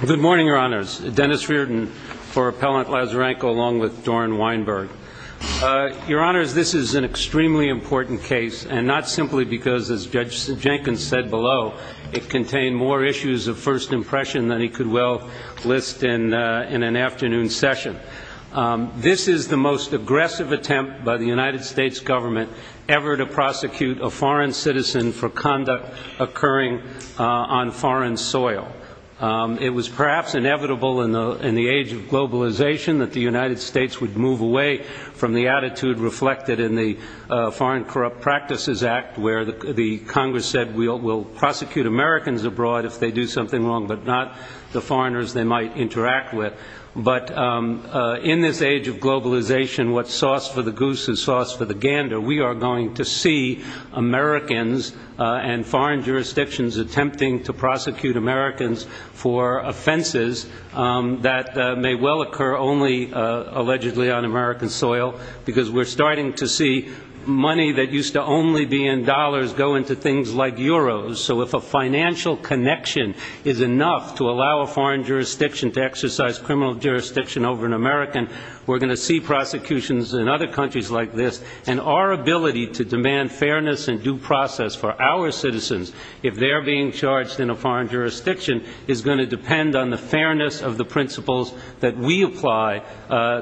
Good morning, Your Honors. Dennis Reardon for Appellant Lazarenko along with Doren Weinberg. Your Honors, this is an extremely important case, and not simply because, as Judge Jenkins said below, it contained more issues of first impression than he could well list in an afternoon session. This is the most aggressive attempt by the United States government ever to prosecute a foreign citizen for conduct occurring on foreign soil. It was perhaps inevitable in the age of globalization that the United States would move away from the attitude reflected in the Foreign Corrupt Practices Act, where the Congress said we'll prosecute Americans abroad if they do something wrong, but not the foreigners they might interact with. But in this age of globalization, what's sauce for the goose is sauce for the gander. We are going to see Americans and foreign jurisdictions attempting to prosecute Americans for offenses that may well occur only, allegedly, on American soil, because we're starting to see money that used to only be in dollars go into things like euros. So if a financial connection is enough to allow a foreign jurisdiction to exercise criminal jurisdiction over an American, we're going to see prosecutions in other countries like this, and our ability to demand fairness and due process for our citizens if they're being charged in a foreign jurisdiction is going to depend on the fairness of the principles that we apply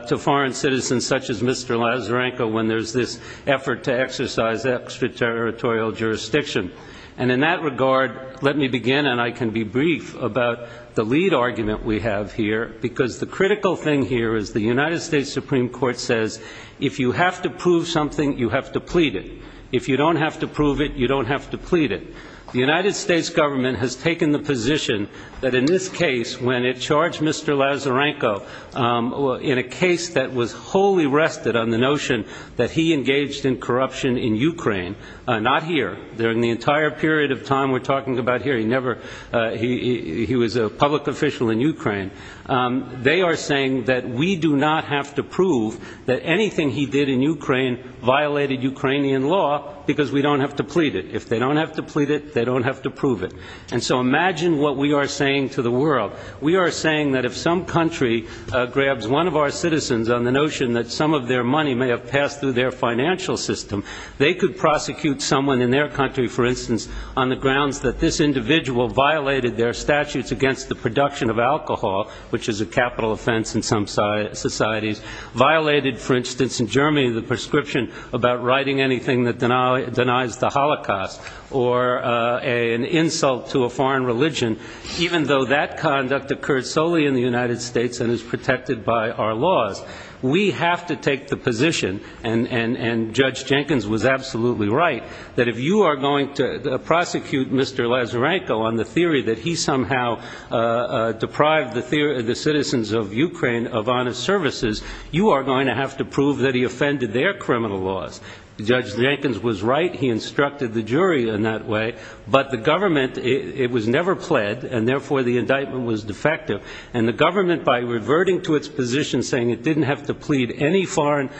to foreign citizens such as Mr. Lazarenko when there's this effort to exercise extraterritorial jurisdiction. And in that regard, let me begin, and I can be brief, about the lead argument we have here, because the critical thing here is the United States Supreme Court says if you have to prove something, you have to plead it. If you don't have to prove it, you don't have to plead it. The United States government has taken the position that in this case, when it charged Mr. Lazarenko in a case that was wholly rested on the notion that he engaged in corruption in Ukraine, not here, during the entire period of time we're talking about here, he was a public official in Ukraine, they are saying that we do not have to prove that anything he did in Ukraine violated Ukrainian law because we don't have to plead it. If they don't have to plead it, they don't have to prove it. And so imagine what we are saying to the world. We are saying that if some country grabs one of our citizens on the notion that some of their money may have passed through their financial system, they could prosecute someone in their country, for instance, on the grounds that this individual violated their statutes against the production of alcohol, which is a capital offense in some societies, violated, for instance, in Germany, the prescription about writing anything that denies the Holocaust. Or an insult to a foreign religion, even though that conduct occurred solely in the United States and is protected by our laws. We have to take the position, and Judge Jenkins was absolutely right, that if you are going to prosecute Mr. Lazarenko on the theory that he somehow deprived the citizens of Ukraine of honest services, you are going to have to prove that he offended their criminal laws. Judge Jenkins was right. He instructed the jury in that way. But the government, it was never pled, and therefore the indictment was defective. And the government, by reverting to its position saying it didn't have to plead any foreign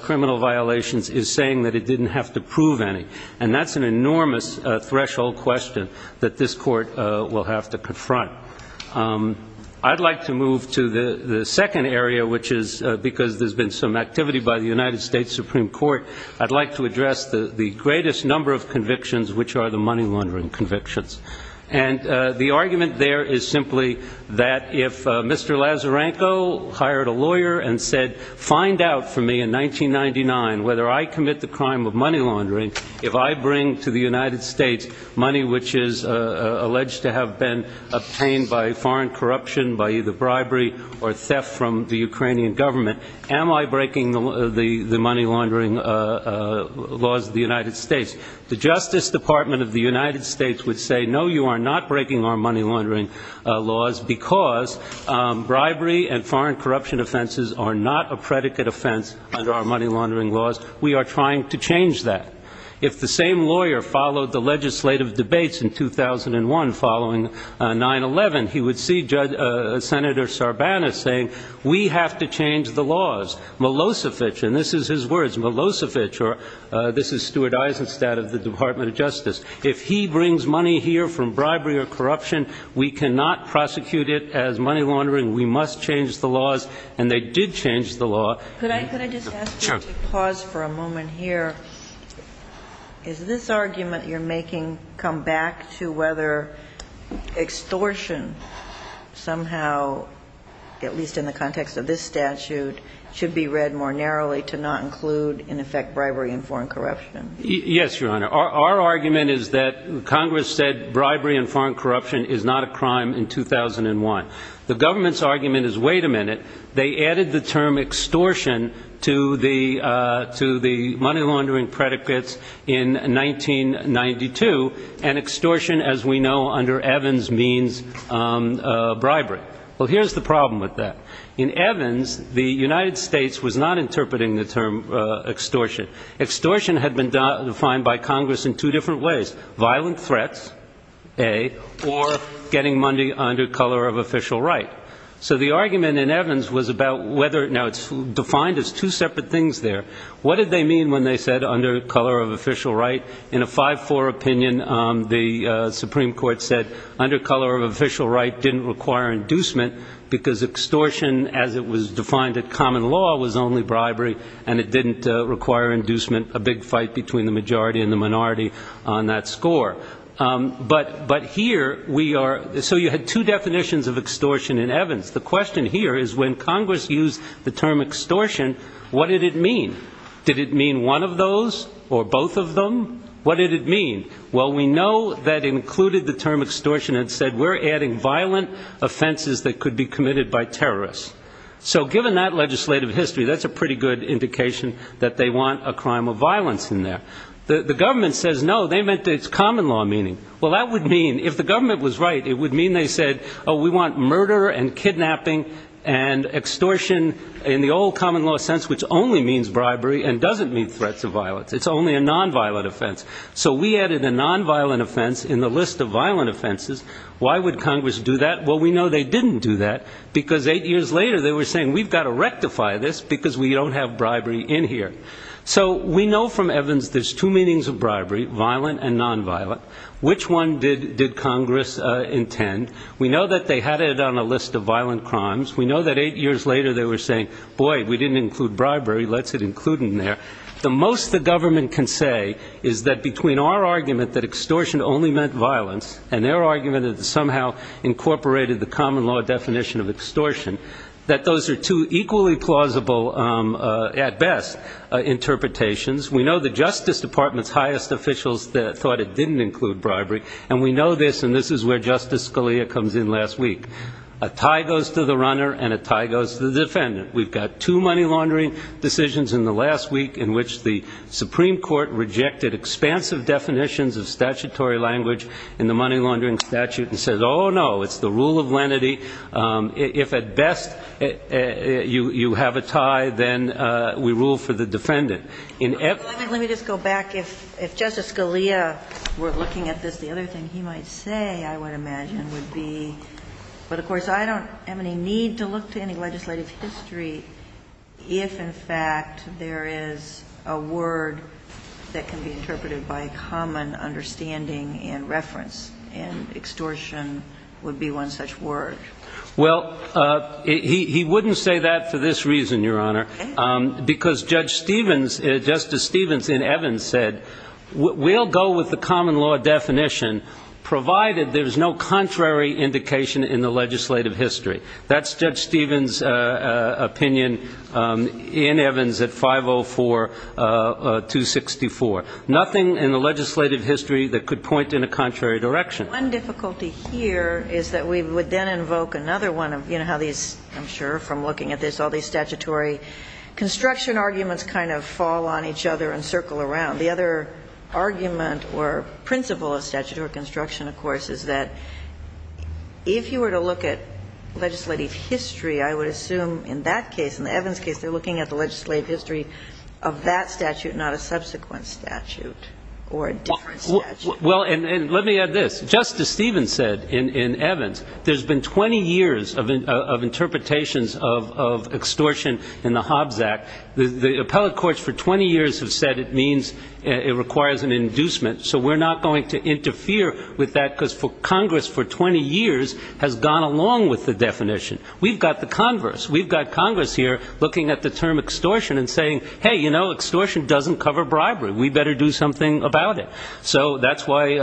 criminal violations, is saying that it didn't have to prove any. And that's an enormous threshold question that this court will have to confront. I'd like to move to the second area, which is, because there's been some activity by the United States Supreme Court, I'd like to address the greatest number of convictions, which are the money laundering convictions. And the argument there is simply that if Mr. Lazarenko hired a lawyer and said, find out for me in 1999 whether I commit the crime of money laundering if I bring to the United States money which is alleged to have been obtained by foreign corruption, by either bribery or theft from the Ukrainian government, am I breaking the money laundering laws of the United States? The Justice Department of the United States would say, no, you are not breaking our money laundering laws because bribery and foreign corruption offenses are not a predicate offense under our money laundering laws. We are trying to change that. If the same lawyer followed the legislative debates in 2001 following 9-11, he would see Senator Sarbanes saying, we have to change the laws. Milosevic, and this is his words, Milosevic, or this is Stuart Eisenstadt of the Department of Justice, if he brings money here from bribery or corruption, we cannot prosecute it as money laundering. We must change the laws. And they did change the law. Could I just ask you to pause for a moment here? Is this argument you're making come back to whether extortion somehow, at least in the context of this statute, should be read more narrowly to not include, in effect, bribery and foreign corruption? Yes, Your Honor. Our argument is that Congress said bribery and foreign corruption is not a crime in 2001. The government's argument is, wait a minute, they added the term extortion to the money laundering predicates in 1992, and extortion, as we know under Evans, means bribery. Well, here's the problem with that. In Evans, the United States was not interpreting the term extortion. Extortion had been defined by Congress in two different ways, violent threats, A, or getting money under color of official right. So the argument in Evans was about whether, now it's defined as two separate things there. What did they mean when they said under color of official right? In a 5-4 opinion, the Supreme Court said under color of official right didn't require inducement because extortion, as it was defined in common law, was only bribery, and it didn't require inducement, a big fight between the majority and the minority on that score. So you had two definitions of extortion in Evans. The question here is when Congress used the term extortion, what did it mean? Did it mean one of those or both of them? What did it mean? Well, we know that included the term extortion and said we're adding violent offenses that could be committed by terrorists. So given that legislative history, that's a pretty good indication that they want a crime of violence in there. The government says no, they meant it's common law meaning. Well, that would mean, if the government was right, it would mean they said, oh, we want murder and kidnapping and extortion in the old common law sense, which only means bribery and doesn't mean threats of violence. It's only a nonviolent offense. So we added a nonviolent offense in the list of violent offenses. Why would Congress do that? Well, we know they didn't do that because eight years later they were saying we've got to rectify this because we don't have bribery in here. So we know from Evans there's two meanings of bribery, violent and nonviolent. Which one did Congress intend? We know that they had it on a list of violent crimes. We know that eight years later they were saying, boy, we didn't include bribery, let's include it in there. We know that between our argument that extortion only meant violence and their argument that it somehow incorporated the common law definition of extortion, that those are two equally plausible, at best, interpretations. We know the Justice Department's highest officials thought it didn't include bribery. And we know this, and this is where Justice Scalia comes in last week. A tie goes to the runner and a tie goes to the defendant. We've got two money laundering decisions in the last week in which the Supreme Court rejected expansive definitions of statutory language in the money laundering statute and said, oh, no, it's the rule of lenity. If at best you have a tie, then we rule for the defendant. Let me just go back. If Justice Scalia were looking at this, the other thing he might say, I would imagine, would be, but of course, I don't have any need to look to any legislative history if, in fact, there is a word that can be interpreted by common understanding and reference. And extortion would be one such word. Well, he wouldn't say that for this reason, Your Honor, because Judge Stevens, Justice Stevens in Evans said, we'll go with the common law definition provided there's no contrary indication in the legislative history. That's Judge Stevens' opinion in Evans at 504-264. Nothing in the legislative history that could point in a contrary direction. One difficulty here is that we would then invoke another one of how these, I'm sure from looking at this, all these statutory construction arguments kind of fall on each other and circle around. The other argument or principle of statutory construction, of course, is that if you were to look at legislative history, I would assume in that case, in the Evans case, they're looking at the legislative history of that statute, not a subsequent statute or a different statute. Well, and let me add this. Justice Stevens said in Evans, there's been 20 years of interpretations of extortion in the Hobbs Act. The appellate courts for 20 years have said it means it requires an inducement. So we're not going to interfere with that because Congress for 20 years has gone along with the definition. We've got the converse. We've got Congress here looking at the term extortion and saying, hey, you know, extortion doesn't cover bribery. We better do something about it. So that's why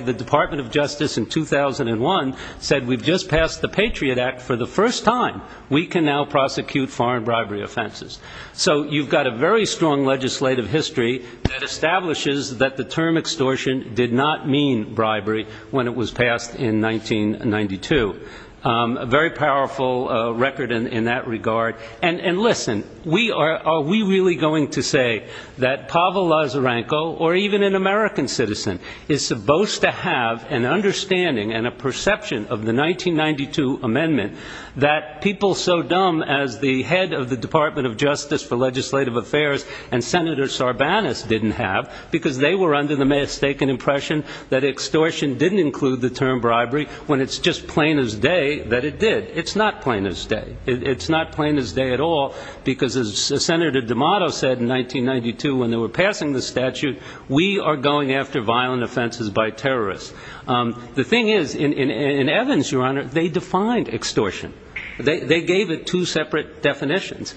the Department of Justice in 2001 said we've just passed the Patriot Act for the first time. We can now prosecute foreign bribery offenses. So you've got a very strong legislative history that establishes that the term extortion did not mean bribery when it was passed in 1992. A very powerful record in that regard. And listen, are we really going to say that Pavel Lazarenko or even an American citizen is supposed to have an understanding and a perception of the 1992 amendment that people so dumb as the head of the Department of Justice are going to say, well, this is a very powerful record. For legislative affairs and Senator Sarbanes didn't have, because they were under the mistaken impression that extortion didn't include the term bribery when it's just plain as day that it did. It's not plain as day. It's not plain as day at all because Senator Dimato said in 1992 when they were passing the statute, we are going after violent offenses by terrorists. The thing is in Evans, Your Honor, they defined extortion. They gave it two separate definitions.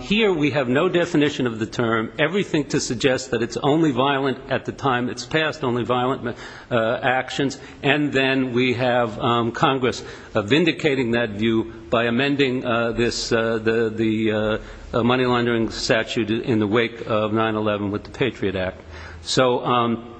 Here we have no definition of the term, everything to suggest that it's only violent at the time it's passed, only violent actions, and then we have Congress vindicating that view by amending the money laundering statute in the wake of 9-11 with the Patriot Act. So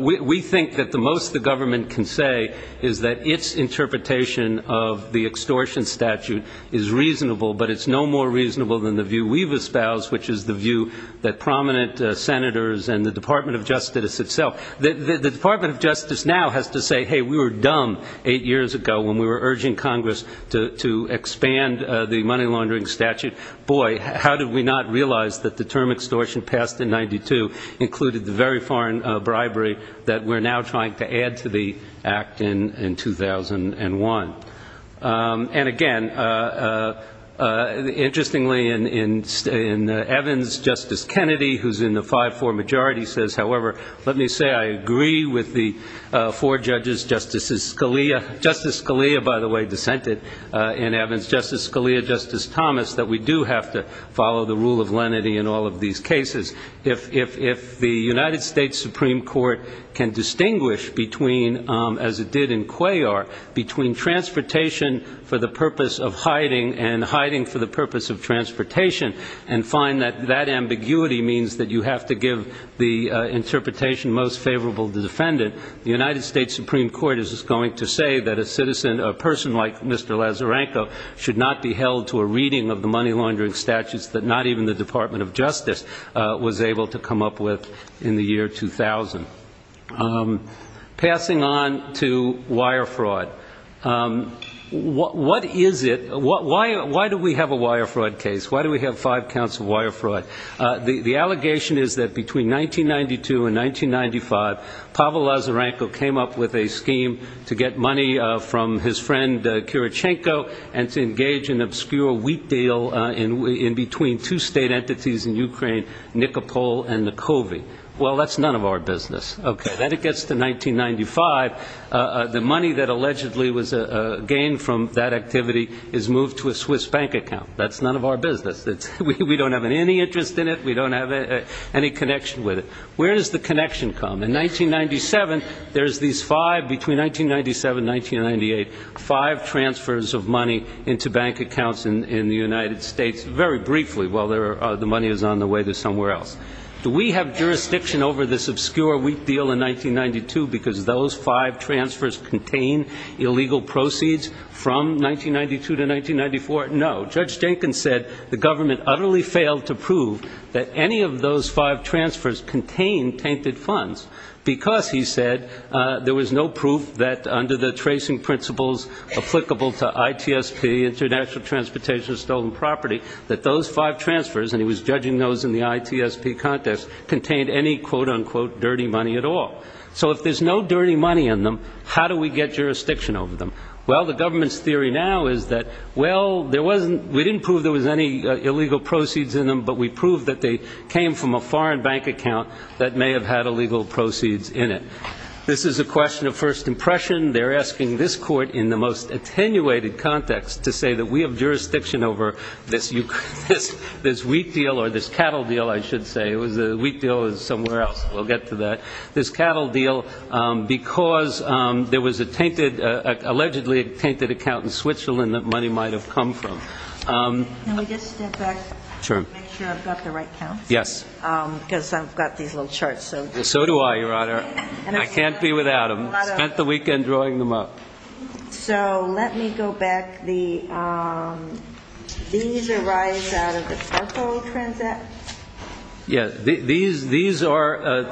we think that the most the government can say is that its interpretation of the extortion statute is reasonable, but it's no more reasonable than the view we've espoused, which is the view that prominent senators and the Department of Justice itself, the Department of Justice now has to say, hey, we were dumb eight years ago when we were urging Congress to expand the money laundering statute. Boy, how did we not realize that the term extortion passed in 92 included the very foreign bribery that we're now trying to add to the act in 2001? And again, interestingly, in Evans, Justice Kennedy, who's in the 5-4 majority, says, however, let me say I agree with the four judges, Justice Scalia, by the way, dissented in Evans, Justice Scalia, Justice Thomas, that we do have to follow the rule of lenity in all of these cases. If the United States Supreme Court can distinguish between, as it did in Cuellar, between transportation for the purpose of hiding and hiding for the purpose of transportation, and find that that ambiguity means that you have to give the interpretation most favorable to the defendant, the United States Supreme Court is going to say that a citizen, a person like Mr. Lazarenko, should not be held to a reading of the money laundering statutes that not even the Department of Justice was able to read. Or was able to come up with in the year 2000. Passing on to wire fraud. What is it? Why do we have a wire fraud case? Why do we have five counts of wire fraud? The allegation is that between 1992 and 1995, Pavel Lazarenko came up with a scheme to get money from his friend, Kirichenko, and to engage in obscure wheat deal in between two state entities in Ukraine, Nikopol and Nikovi. Well, that's none of our business. Okay. Then it gets to 1995. The money that allegedly was gained from that activity is moved to a Swiss bank account. That's none of our business. We don't have any interest in it. We don't have any connection with it. Where does the connection come? In 1997, there's these five, between 1997 and 1998, five transfers of money into bank accounts in the United States, very briefly while the money is on the way to somewhere else. Do we have jurisdiction over this obscure wheat deal in 1992 because those five transfers contain illegal proceeds from 1992 to 1994? No. Judge Jenkins said the government utterly failed to prove that any of those five transfers contained tainted funds because, he said, there was no proof that under the tracing principles applicable to ITSP, international transportation of stolen property, that those five transfers, and he was judging those in the ITSP context, contained any, quote, unquote, dirty money at all. So if there's no dirty money in them, how do we get jurisdiction over them? Well, the government's theory now is that, well, there wasn't, we didn't prove there was any illegal proceeds in them, but we proved that they came from a foreign bank account that may have had illegal proceeds in it. This is a question of first impression. They're asking this court in the most attenuated context to say that we have jurisdiction over this wheat deal or this cattle deal, I should say. The wheat deal is somewhere else. We'll get to that. This cattle deal, because there was allegedly a tainted account in Switzerland that money might have come from. Can we just step back and make sure I've got the right counts? Yes. Because I've got these little charts. So do I, Your Honor. I can't be without them. I spent the weekend drawing them up. So let me go back. These arise out of the charcoal transact? Yeah. These are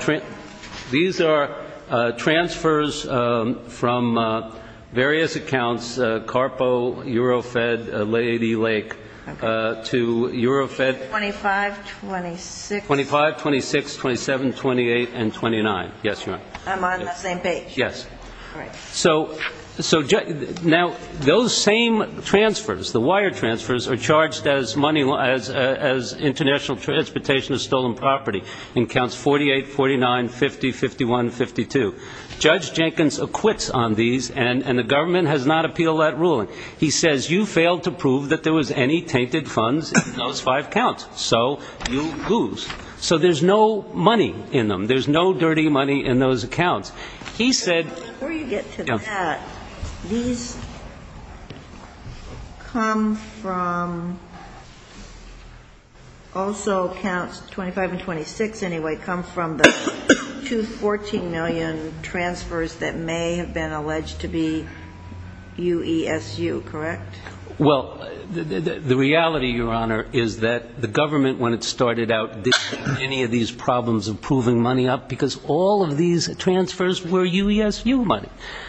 transfers from various accounts, Carpo, Eurofed, Lady Lake, to Eurofed. 25, 26. 25, 26, 27, 28, and 29. Yes, Your Honor. I'm on the same page. Yes. So now those same transfers, the wire transfers, are charged as international transportation of stolen property in counts 48, 49, 50, 51, 52. Judge Jenkins acquits on these, and the government has not appealed that ruling. He says you failed to prove that there was any tainted funds in those five counts, so you lose. So there's no money in them. There's no dirty money in those accounts. He said Before you get to that, these come from also counts 25 and 26, anyway, come from the two 14 million transfers that may have been alleged to be UESU, correct? Well, the reality, Your Honor, is that the government, when it started out, didn't have any of these problems of proving money up because all of these transfers were UESU money.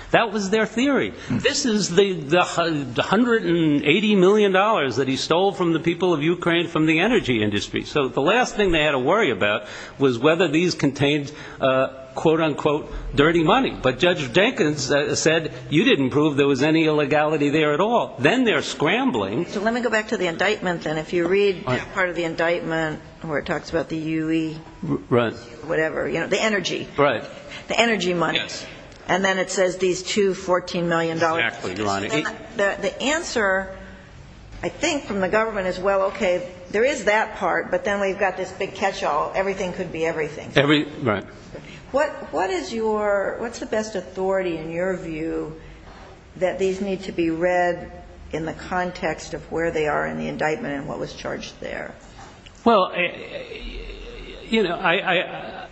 That was their theory. This is the $180 million that he stole from the people of Ukraine from the energy industry. So the last thing they had to worry about was whether these contained, quote, unquote, dirty money. But Judge Jenkins said you didn't prove there was any illegality there at all. Then they're scrambling So let me go back to the indictment, then. If you read part of the indictment where it talks about the UE, whatever, the energy, the energy money, and then it says these two $14 million. Exactly, Your Honor. The answer, I think, from the government is, well, okay, there is that part, but then we've got this big catch-all, everything could be everything. Right. What's the best authority, in your view, that these need to be read in the context of where they are in the indictment and what was charged there? Well, you know, I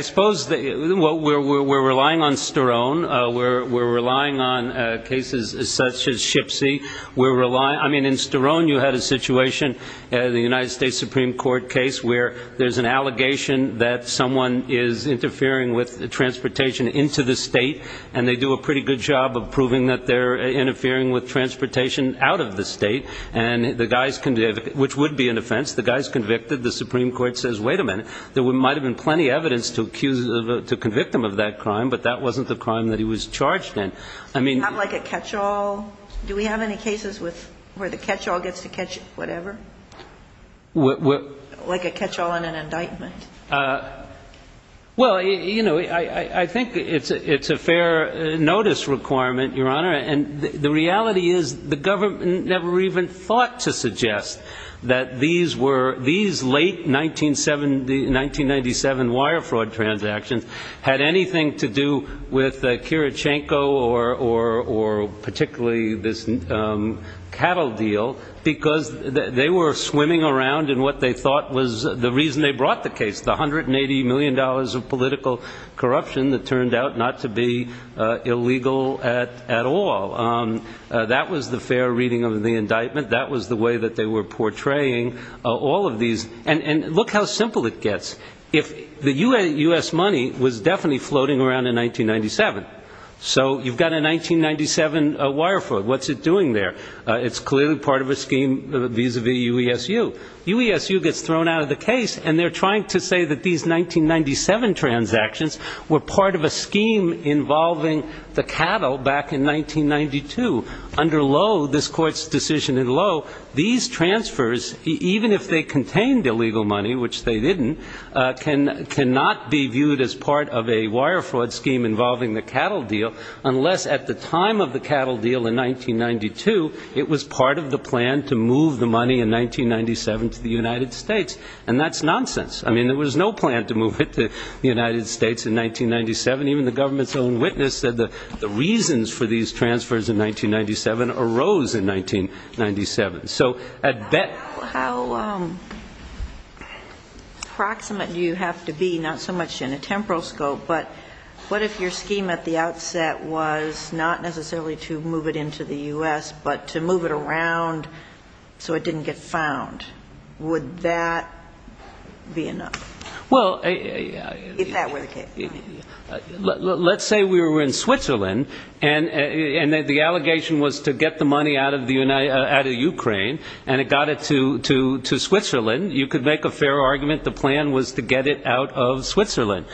suppose we're relying on Sterone. We're relying on cases such as Shipsy. I mean, in Sterone you had a situation, the United States Supreme Court case, where there's an allegation that someone is interfering with transportation into the state, and they do a pretty good job of proving that they're interfering with transportation out of the state, which would be an offense. The guy's convicted. The Supreme Court says, wait a minute, there might have been plenty of evidence to convict him of that crime, but that wasn't the crime that he was charged in. Not like a catch-all? Do we have any cases where the catch-all gets to catch whatever? What? Like a catch-all in an indictment. Well, you know, I think it's a fair notice requirement, Your Honor, and the reality is the government never even thought to suggest that these late 1997 wire fraud transactions had anything to do with Kirichenko or particularly this cattle deal, because they were swimming around in what they thought was the reason they brought the case, the $180 million of political corruption that turned out not to be illegal at all. That was the fair reading of the indictment. That was the way that they were portraying all of these. And look how simple it gets. The U.S. money was definitely floating around in 1997. So you've got a 1997 wire fraud. What's it doing there? It's clearly part of a scheme vis-à-vis UESU. UESU gets thrown out of the case, and they're trying to say that these 1997 transactions were part of a scheme involving the cattle back in 1992. Under Lowe, this Court's decision in Lowe, these transfers, even if they contained illegal money, which they didn't, cannot be viewed as part of a wire fraud scheme involving the cattle deal, unless at the time of the cattle deal in 1992, it was part of the plan to move the money in 1997. And that's nonsense. I mean, there was no plan to move it to the United States in 1997. Even the government's own witness said the reasons for these transfers in 1997 arose in 1997. So at that point... How proximate do you have to be, not so much in a temporal scope, but what if your scheme at the outset was not necessarily to move it into the U.S., but to move it around so it didn't get found? Would that be enough? If that were the case. Let's say we were in Switzerland, and the allegation was to get the money out of Ukraine, and it got it to Switzerland. You could make a fair argument the plan was to get it out of Switzerland.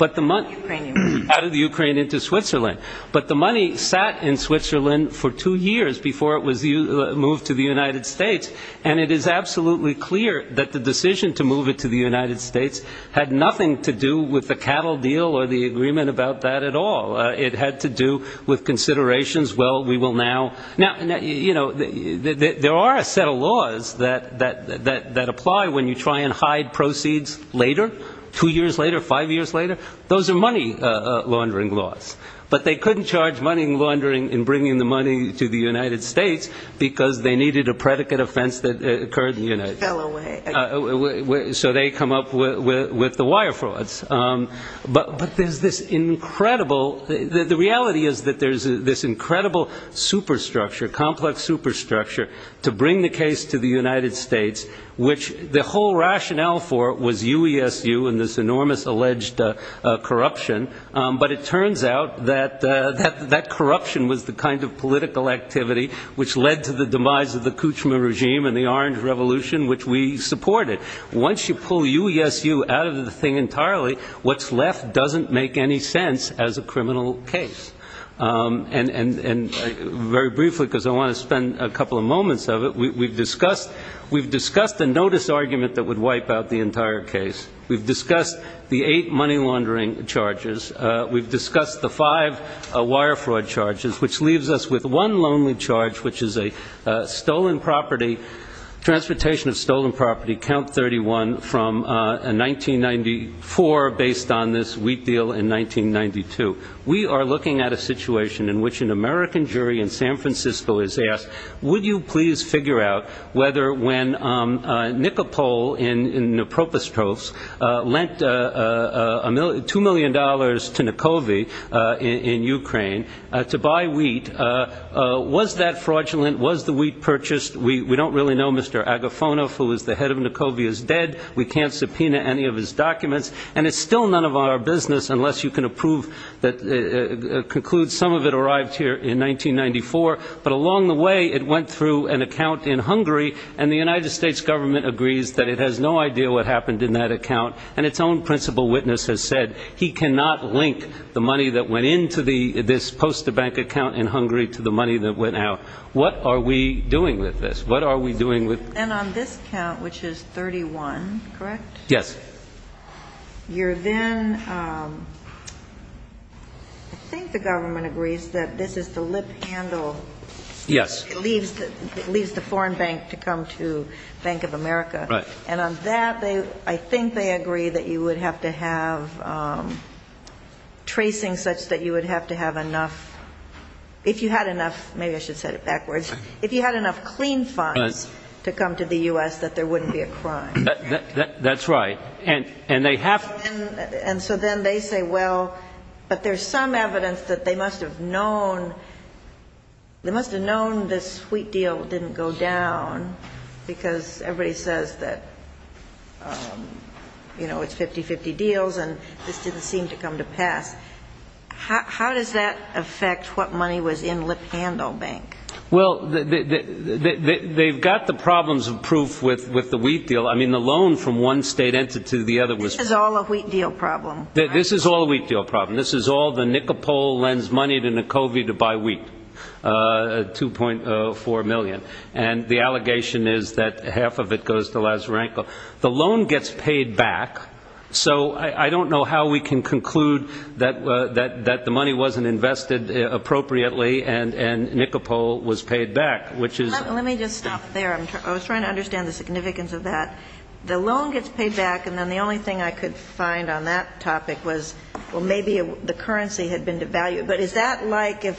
Out of the Ukraine into Switzerland. But the money sat in Switzerland for two years before it was moved to the United States. And it is absolutely clear that the decision to move it to the United States had nothing to do with the cattle deal or the agreement about that at all. It had to do with considerations, well, we will now... Now, you know, there are a set of laws that apply when you try and hide proceeds later, two years later, five years later. Those are money laundering laws. But they couldn't charge money laundering in bringing the money to the United States, because they needed a predicate offender. So they come up with the wire frauds. But there's this incredible, the reality is that there's this incredible superstructure, complex superstructure, to bring the case to the United States, which the whole rationale for it was UESU and this enormous alleged corruption. But it turns out that that corruption was the kind of political activity which led to the demise of the Kuchma regime. And the Orange Revolution, which we supported. Once you pull UESU out of the thing entirely, what's left doesn't make any sense as a criminal case. And very briefly, because I want to spend a couple of moments of it, we've discussed the notice argument that would wipe out the entire case. We've discussed the eight money laundering charges. We've discussed the five wire fraud charges, which leaves us with one lonely charge, which is a stolen property, transportation of stolen property, count 31, from 1994, based on this wheat deal in 1992. We are looking at a situation in which an American jury in San Francisco is asked, would you please figure out whether when Nikopol in the Propostrovsk lent $2 million to Nikovy in Ukraine to buy wheat, was that fraudulent, was the wheat purchased? We don't really know. Mr. Agafonov, who is the head of Nikovy, is dead. We can't subpoena any of his documents. And it's still none of our business, unless you can conclude some of it arrived here in 1994. But along the way, it went through an account in Hungary, and the United States government agrees that it has no idea what happened in that account. And its own principal witness has said he cannot link the money that went into this post-bank account in Hungary to the account in Ukraine. So the government agreed to the money that went out. What are we doing with this? What are we doing with this? And on this count, which is 31, correct? Yes. You're then, I think the government agrees that this is the lip handle. Yes. It leaves the foreign bank to come to Bank of America. Right. And on that, I think they agree that you would have to have tracing such that you would have to have enough. If you had enough, maybe I should set it backwards, if you had enough clean funds to come to the U.S., that there wouldn't be a crime. That's right. And they have. And so then they say, well, but there's some evidence that they must have known. They must have known this sweet deal didn't go down because everybody says that, you know, it's 50-50 deals and this didn't seem to come to pass. How does that affect what money was in lip handle bank? Well, they've got the problems of proof with with the wheat deal. I mean, the loan from one state entity to the other was all a wheat deal problem. This is all a wheat deal problem. This is all the Nicopole lends money to Nikovi to buy wheat. Two point four million. And the allegation is that half of it goes to Lazarenko. The loan gets paid back. So I don't know how we can conclude that money goes to Lazarenko. I mean, that the money wasn't invested appropriately and Nicopole was paid back, which is. Let me just stop there. I was trying to understand the significance of that. The loan gets paid back. And then the only thing I could find on that topic was, well, maybe the currency had been devalued. But is that like if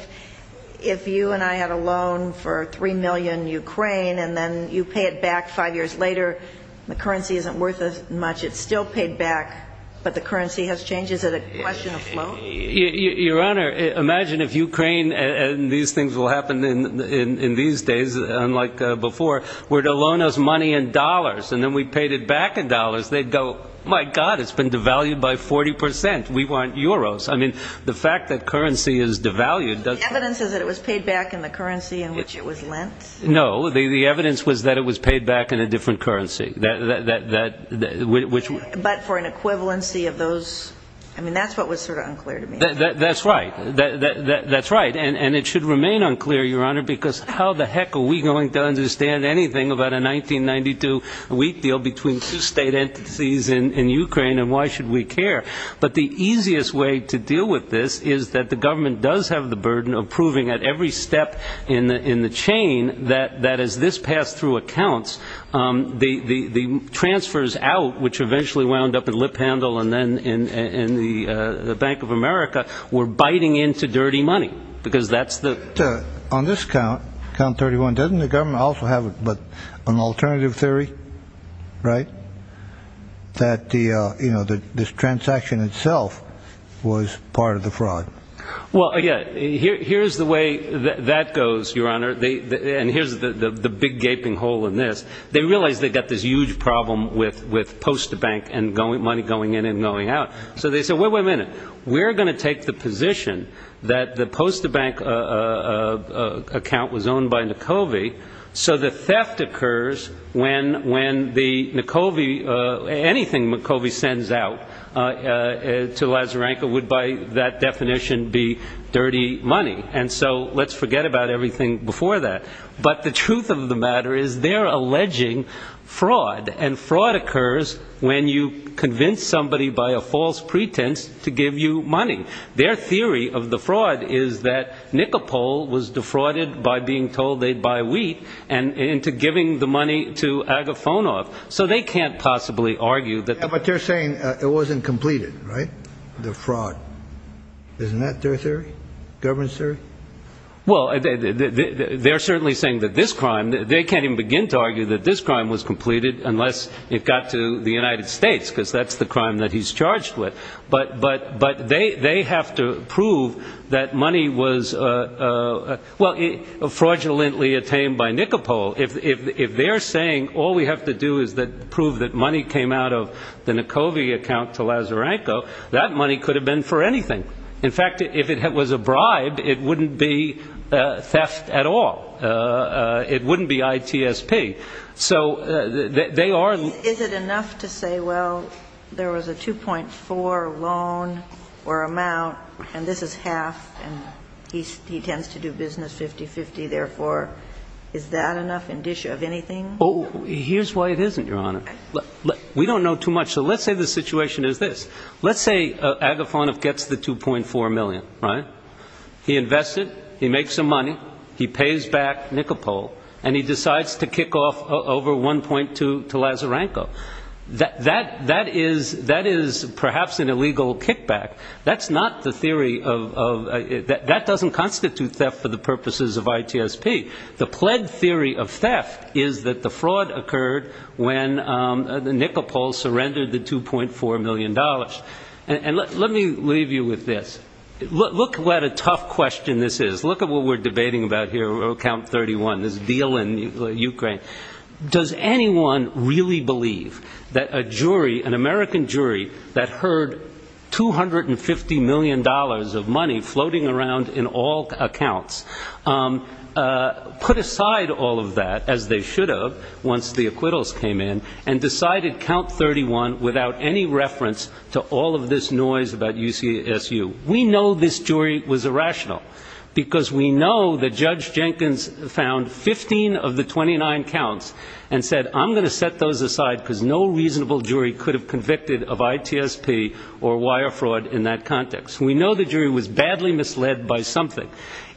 if you and I had a loan for three million Ukraine and then you pay it back five years later, the currency isn't worth as much. It's still paid back. But the currency has changed. Is it a question of flow? Your Honor, imagine if Ukraine and these things will happen in these days, unlike before, were to loan us money in dollars and then we paid it back in dollars. They'd go, my God, it's been devalued by 40 percent. We want euros. I mean, the fact that currency is devalued. The evidence is that it was paid back in the currency in which it was lent. No, the evidence was that it was paid back in a different currency. But for an equivalency of those. I mean, that's what was sort of unclear. That's right. That's right. And it should remain unclear, Your Honor, because how the heck are we going to understand anything about a 1992 wheat deal between two state entities in Ukraine? And why should we care? But the easiest way to deal with this is that the government does have the burden of proving at every step in the chain that that is this pass through accounts, the transfers out, which eventually wound up in lip handle and then in the Bank of America. We're biting into dirty money because that's the on this count. Count thirty one. Doesn't the government also have an alternative theory? Right. That, you know, this transaction itself was part of the fraud. Well, yeah, here's the way that goes, Your Honor. And here's the big gaping hole in this. They realize they've got this huge problem with with post the bank and going money going in and going out. So they said, wait, wait a minute, we're going to take the position that the post the bank account was owned by Nikovy. So the theft occurs when when the Nikovy anything Nikovy sends out to Lazzarenko would, by that definition, be dirty money. And so let's forget about everything before that. But the truth of the matter is they're alleging fraud. And fraud occurs when you convince somebody by a false pretense to give you money. Their theory of the fraud is that Nikopol was defrauded by being told they'd buy wheat and into giving the money to Agafonov. So they can't possibly argue that. But they're saying it wasn't completed. Right. The fraud. Isn't that their theory? Government, sir? Well, they're certainly saying that this crime, they can't even begin to argue that this crime was completed unless it got to the United States, because that's the crime that he's charged with. But but but they they have to prove that money was, well, fraudulently attained by Nikopol. If they're saying all we have to do is that prove that money came out of the Nikovy account to Lazzarenko, that money could have been for anything. In fact, if it was a bribe, it wouldn't be theft at all. It wouldn't be ITSP. So they are. Is it enough to say, well, there was a 2.4 loan or amount and this is half and he's he tends to do business 50-50. Therefore, is that enough indicia of anything? Oh, here's why it isn't, Your Honor. We don't know too much. So let's say the situation is this. Let's say Agafonov gets the 2.4 million, right? He invested, he makes some money, he pays back Nikopol and he decides to kick off over 1.2 to Lazzarenko. That that that is that is perhaps an illegal kickback. That's not the theory of that. That doesn't constitute theft for the purposes of ITSP. The pled theory of theft is that the fraud occurred when the Nikopol surrendered the 2.4 million dollars. And let let me leave you with this. Look what a tough question this is. Look at what we're debating about here. Count 31, this deal in Ukraine. Does anyone really believe that a jury, an American jury that heard 250 million dollars of money floating around in all accounts, put aside all of that as they should have once the acquittals came in and decided count 31 without any reference to all the other accounts? All of this noise about UCSU. We know this jury was irrational because we know that Judge Jenkins found 15 of the 29 counts and said, I'm going to set those aside because no reasonable jury could have convicted of ITSP or wire fraud in that context. We know the jury was badly misled by something.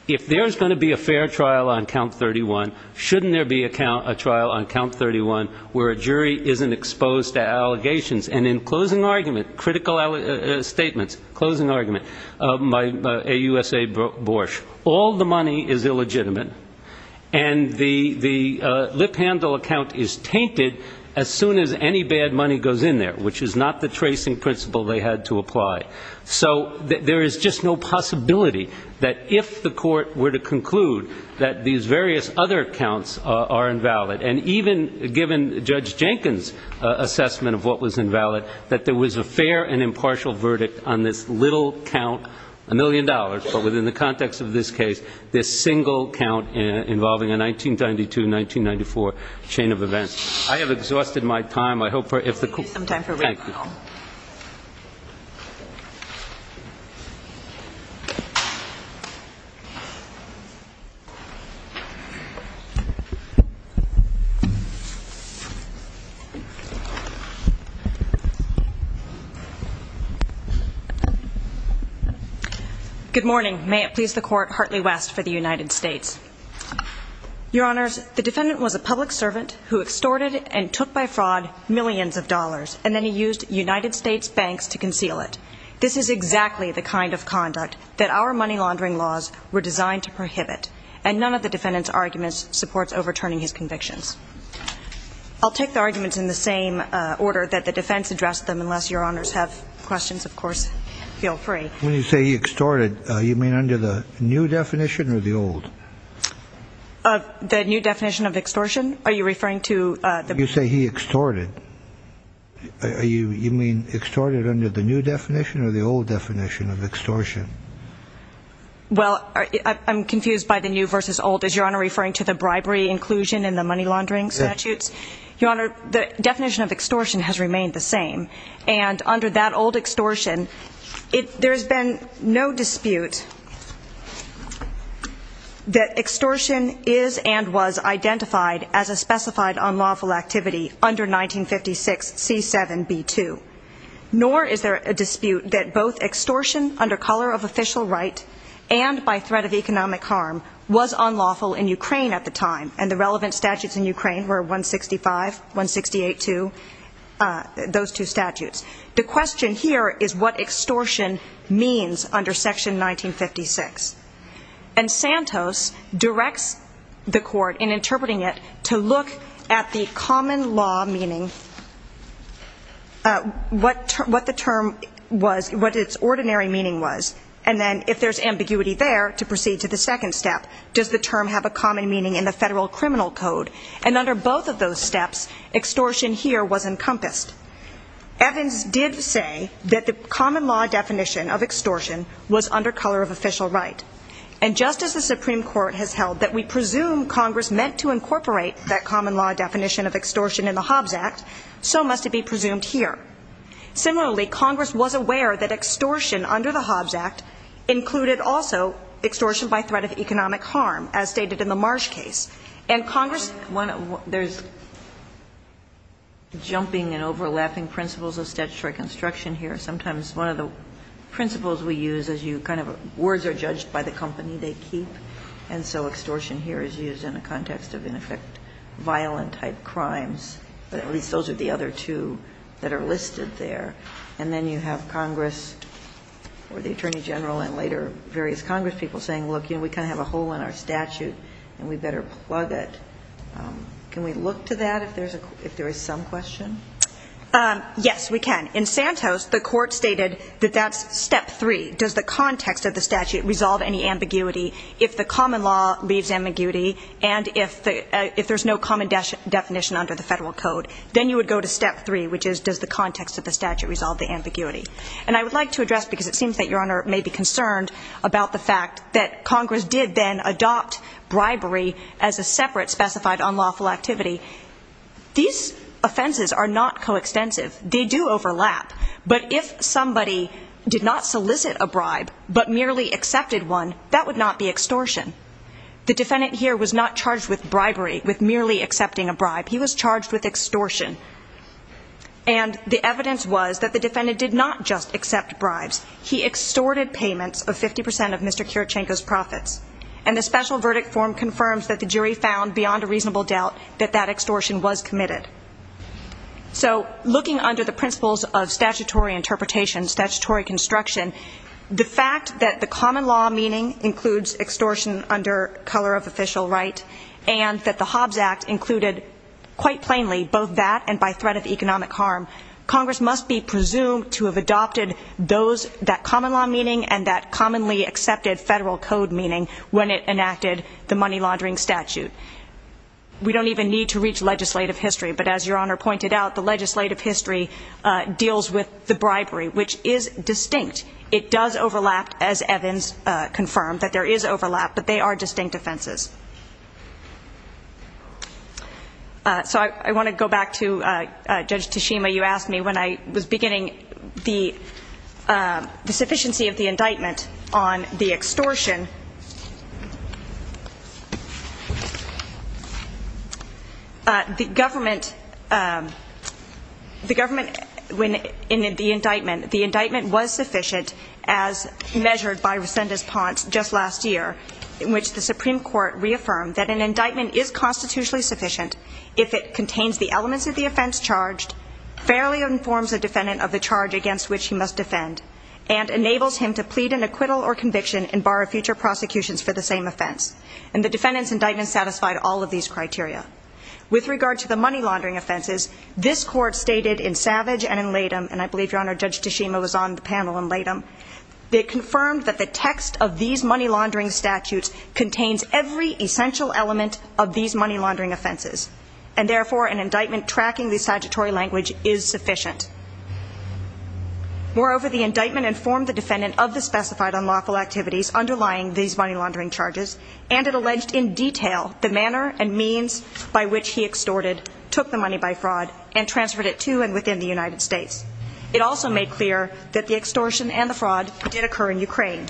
If there is going to be a fair trial on count 31, shouldn't there be a trial on count 31 where a jury isn't exposed to allegations? And in closing argument, critical statements, closing argument by AUSA Borsche, all the money is illegitimate. And the the lip handle account is tainted as soon as any bad money goes in there, which is not the tracing principle they had to apply. So there is just no possibility that if the court were to conclude that these various other accounts are invalid, and even given Judge Jenkins' assessment of what was invalid, that there was a fair and impartial verdict on this little count, a million dollars, but within the context of this case, this single count involving a 1992-1994 chain of events. I have exhausted my time. Thank you. Good morning. May it please the court, Hartley West for the United States. Your Honors, the defendant was a public servant who extorted and took by fraud millions of dollars, and then he used United States banks to conceal it. This is exactly the kind of conduct that our money laundering laws were designed to prohibit, and none of the defendant's arguments supports overturning his convictions. I'll take the arguments in the same order that the defense addressed them, unless Your Honors have questions. Of course, feel free. When you say he extorted, you mean under the new definition or the old? The new definition of extortion? Are you referring to the- You say he extorted. You mean extorted under the new definition or the old definition of extortion? Well, I'm confused by the new versus old. Is Your Honor referring to the bribery inclusion in the money laundering statutes? Your Honor, the definition of extortion has remained the same, and under that old extortion, there has been no dispute that extortion is and was identified as a specified unlawful activity under 1956C7B2. Nor is there a dispute that both extortion under color of official right and by threat of economic harm was unlawful in Ukraine at the time, and the relevant statutes in Ukraine were 165, 168-2, those two statutes. The question here is what extortion means under section 1956, and Santos directs the court in interpreting it to look at the common law meaning, what the term was, what its ordinary meaning was, and then if there's ambiguity there, to proceed to the second step. Does the term have a common meaning in the federal criminal code? And under both of those steps, extortion here was encompassed. Evans did say that the common law definition of extortion was under color of official right, and just as the Supreme Court has held that we presume Congress meant to incorporate that common law definition of extortion in the Hobbs Act, so must it be presumed here. Similarly, Congress was aware that extortion under the Hobbs Act included also extortion by threat of economic harm, as stated in the Marsh case. And Congress... There's jumping and overlapping principles of statutory construction here. Sometimes one of the principles we use is you kind of, words are judged by the company they keep, and so extortion here is used in a context of, in effect, violent-type crimes. At least those are the other two that are listed there. And then you have Congress, or the Attorney General, and later various Congress people saying, look, you know, we kind of have a hole in our statute, and we better plug it. Can we look to that if there is some question? Yes, we can. In Santos, the court stated that that's step three. Does the context of the statute resolve any ambiguity? If the common law leaves ambiguity, and if there's no common definition under the federal code, then you would go to step three, which is does the context of the statute resolve the ambiguity? And I would like to address, because it seems that Your Honor may be concerned, about the fact that Congress did then adopt bribery as a separate specified unlawful activity. These offenses are not coextensive. They do overlap. But if somebody did not solicit a bribe, but merely accepted one, that would not be extortion. The defendant here was not charged with bribery, with merely accepting a bribe. He was charged with extortion. And the evidence was that the defendant did not just accept bribes. He extorted payments of 50 percent of Mr. Kirichenko's profits. And the special verdict form confirms that the jury found, beyond a reasonable doubt, that that extortion was committed. So, looking under the principles of statutory interpretation, statutory construction, the fact that the common law meaning includes extortion under color of official right, and that the Hobbs Act included, quite plainly, both that and by threat of economic harm, Congress must be presumed to have adopted that common law meaning and that commonly accepted federal code meaning when it enacted the money laundering statute. We don't even need to reach legislative history, but as Your Honor pointed out, the legislative history deals with the bribery, which is distinct. It does overlap, as Evans confirmed, that there is overlap, but they are distinct offenses. So I want to go back to Judge Tashima. You asked me when I was beginning the sufficiency of the indictment on the extortion. The government, when in the indictment, the indictment was sufficient, as measured by Resendez-Ponce just last year, in which the Supreme Court reaffirmed that an indictment is constitutionally sufficient if it contains the elements of the offense charged, fairly informs the defendant of the charge against which he must defend, and enables him to plead an acquittal or conviction and bar future prosecutions for the same offense. And the defendant's indictment satisfied all of these criteria. With regard to the money laundering offenses, this Court stated in Savage and in Latham, and I believe, Your Honor, Judge Tashima was on the panel in Latham, it confirmed that the text of these money laundering statutes contains every essential element of these money laundering offenses, and therefore an indictment tracking the statutory language is sufficient. Moreover, the indictment informed the defendant of the specified unlawful activities underlying these money laundering charges, and it alleged in detail the manner and means by which he extorted, took the money by fraud, and transferred it to and within the United States. It also made clear that the extortion and the fraud did occur in Ukraine.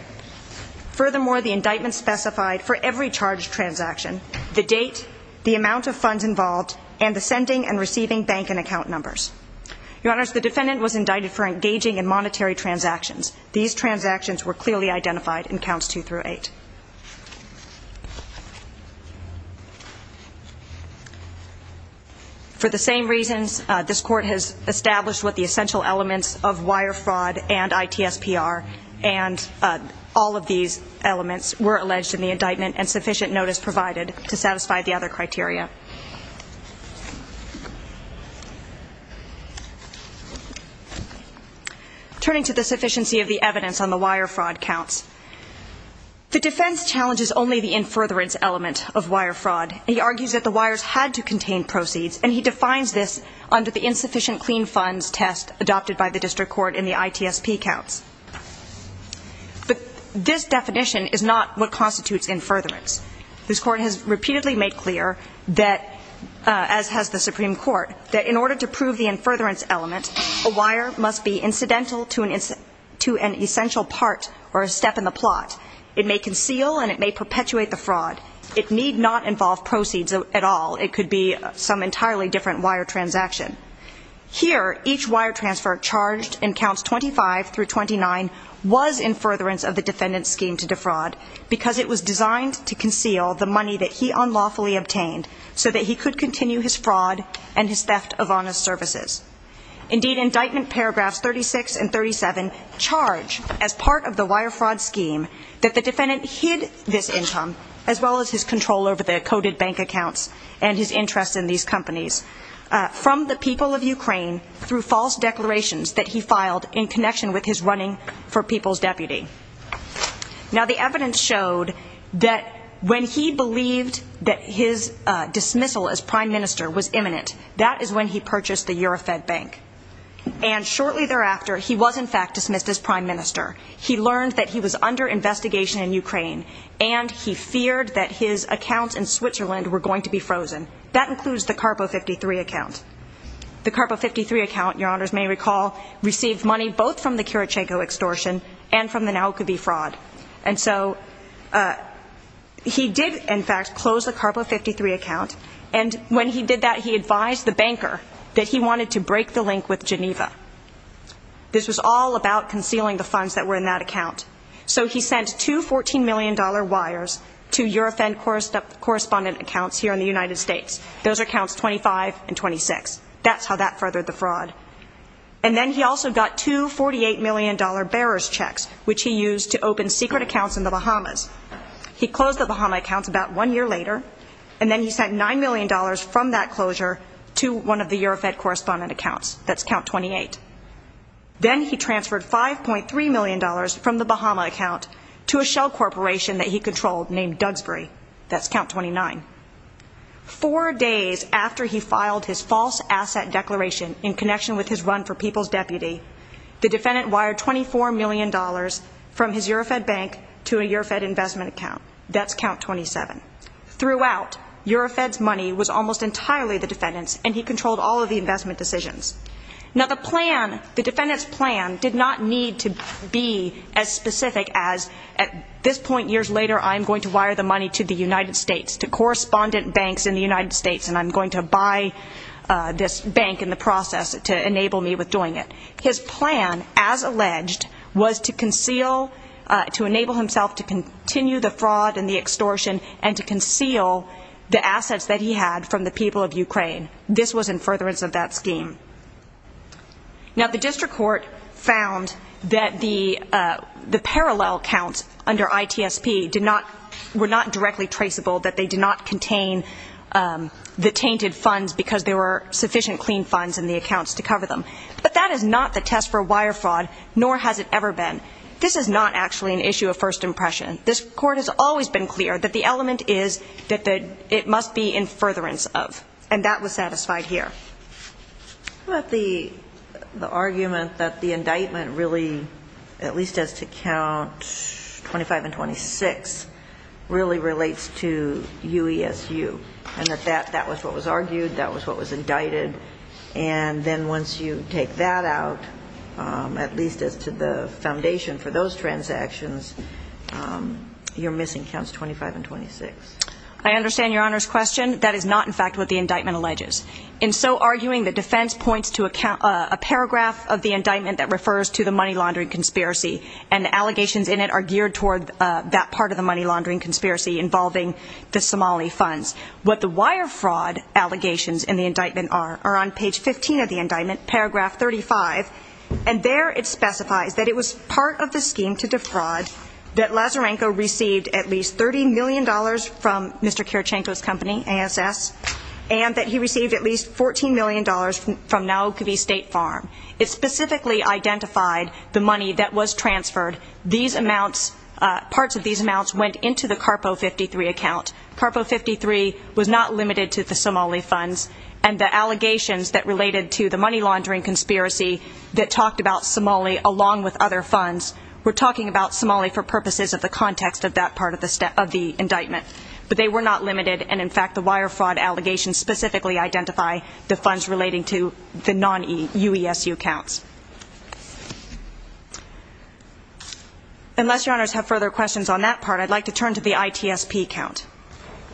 Furthermore, the indictment specified for every charged transaction, the date, the amount of funds involved, and the sending and receiving bank and account numbers. Your Honors, the defendant was indicted for engaging in monetary transactions. These transactions were clearly identified in Counts 2 through 8. For the same reasons, this Court has established what the essential elements of wire fraud and ITSPR and all of these elements were alleged in the indictment and sufficient notice provided to satisfy the other criteria. Turning to the sufficiency of the evidence on the wire fraud counts, the defense challenges only the infurtherance element of wire fraud. He argues that the wires had to contain proceeds, and he defines this under the insufficient clean funds test adopted by the District Court in the ITSP counts. But this definition is not what constitutes infurtherance. This Court has repeatedly made clear that, as has the Supreme Court, that in order to prove the infurtherance element, a wire must be incidental to an essential part or a step in the plot. It may conceal and it may perpetuate the fraud. It need not involve proceeds at all. It could be some entirely different wire transaction. Here, each wire transfer charged in Counts 25 through 29 was infurtherance of the defendant's scheme to defraud because it was designed to conceal the money that he unlawfully obtained so that he could continue his fraud and his theft of honest services. Indeed, Indictment Paragraphs 36 and 37 charge, as part of the wire fraud scheme, that the defendant hid this income, as well as his control over the coded bank accounts and his interest in these companies, from the people of Ukraine through false declarations that he filed in connection with his running for People's Deputy. Now, the evidence showed that when he believed that his dismissal as Prime Minister was imminent, that is when he purchased the Eurofed bank. And shortly thereafter, he was in fact dismissed as Prime Minister. He learned that he was under investigation in Ukraine and he feared that his accounts in Switzerland were going to be frozen. That includes the Carpo 53 account. The Carpo 53 account, Your Honours may recall, received money both from the Kiritschenko extortion and from the Naukovi fraud. And so, he did in fact close the Carpo 53 account and when he did that, he advised the banker that he wanted to break the link with Geneva. This was all about concealing the funds that were in that account. So, he sent two $14 million wires to Eurofed correspondent accounts here in the United States. Those are accounts 25 and 26. That's how that furthered the fraud. And then he also got two $48 million bearers checks, which he used to open secret accounts in the Bahamas. He closed the Bahama accounts about one year later and then he sent $9 million from that closure to one of the Eurofed correspondent accounts. That's count 28. Then he transferred $5.3 million from the Bahama account to a shell corporation that he controlled named Dugsbury. That's count 29. Four days after he filed his false asset declaration in connection with his run for People's Deputy, the defendant wired $24 million from his Eurofed bank to a Eurofed investment account. That's count 27. Throughout, Eurofed's money was almost entirely the defendant's and he controlled all of the investment decisions. Now, the plan, the defendant's plan, did not need to be as specific as, at this point years later, I'm going to wire the money to the United States, to correspondent banks in the United States, and I'm going to buy this bank in the process to enable me with doing it. His plan, as alleged, was to conceal, to enable himself to continue the fraud and the extortion and to conceal the assets that he had from the people of Ukraine. This was in furtherance of that scheme. Now, the district court found that the parallel counts under ITSP were not directly traceable, that they did not contain the tainted funds because there were sufficient clean funds in the accounts to cover them. But that is not the test for wire fraud, nor has it ever been. This is not actually an issue of first impression. This court has always been clear that the element is that it must be in furtherance of, and that was satisfied here. How about the argument that the indictment really, at least as to count 25 and 26, really relates to UESU, and that that was what was argued, that was what was indicted, and then once you take that out, at least as to the foundation for those transactions, you're missing counts 25 and 26. I understand Your Honor's question. That is not in fact what the indictment alleges. In so arguing, the defense points to a paragraph of the indictment that refers to the money laundering conspiracy, and the allegations in it are geared toward that part of the money laundering conspiracy involving the Somali funds. What the wire fraud allegations in the indictment are, are on page 15 of the indictment, paragraph 35, and there it specifies that it was part of the scheme to defraud that Lazarenko received at least $30 million from Mr. Kirichenko's company, ASS, and that he received at least $14 million from Naokvi State Farm. It specifically identified the money that was transferred. These amounts, parts of these amounts, went into the CARPO 53 account. CARPO 53 was not limited to the Somali funds, and the allegations that related to the money laundering conspiracy that talked about Somali along with other funds were talking about Somali for purposes of the context of that part of the indictment. But they were not limited, and in fact the wire fraud allegations specifically identify the funds relating to the non-UESU accounts. Unless your honors have further questions on that part, I'd like to turn to the ITSP account.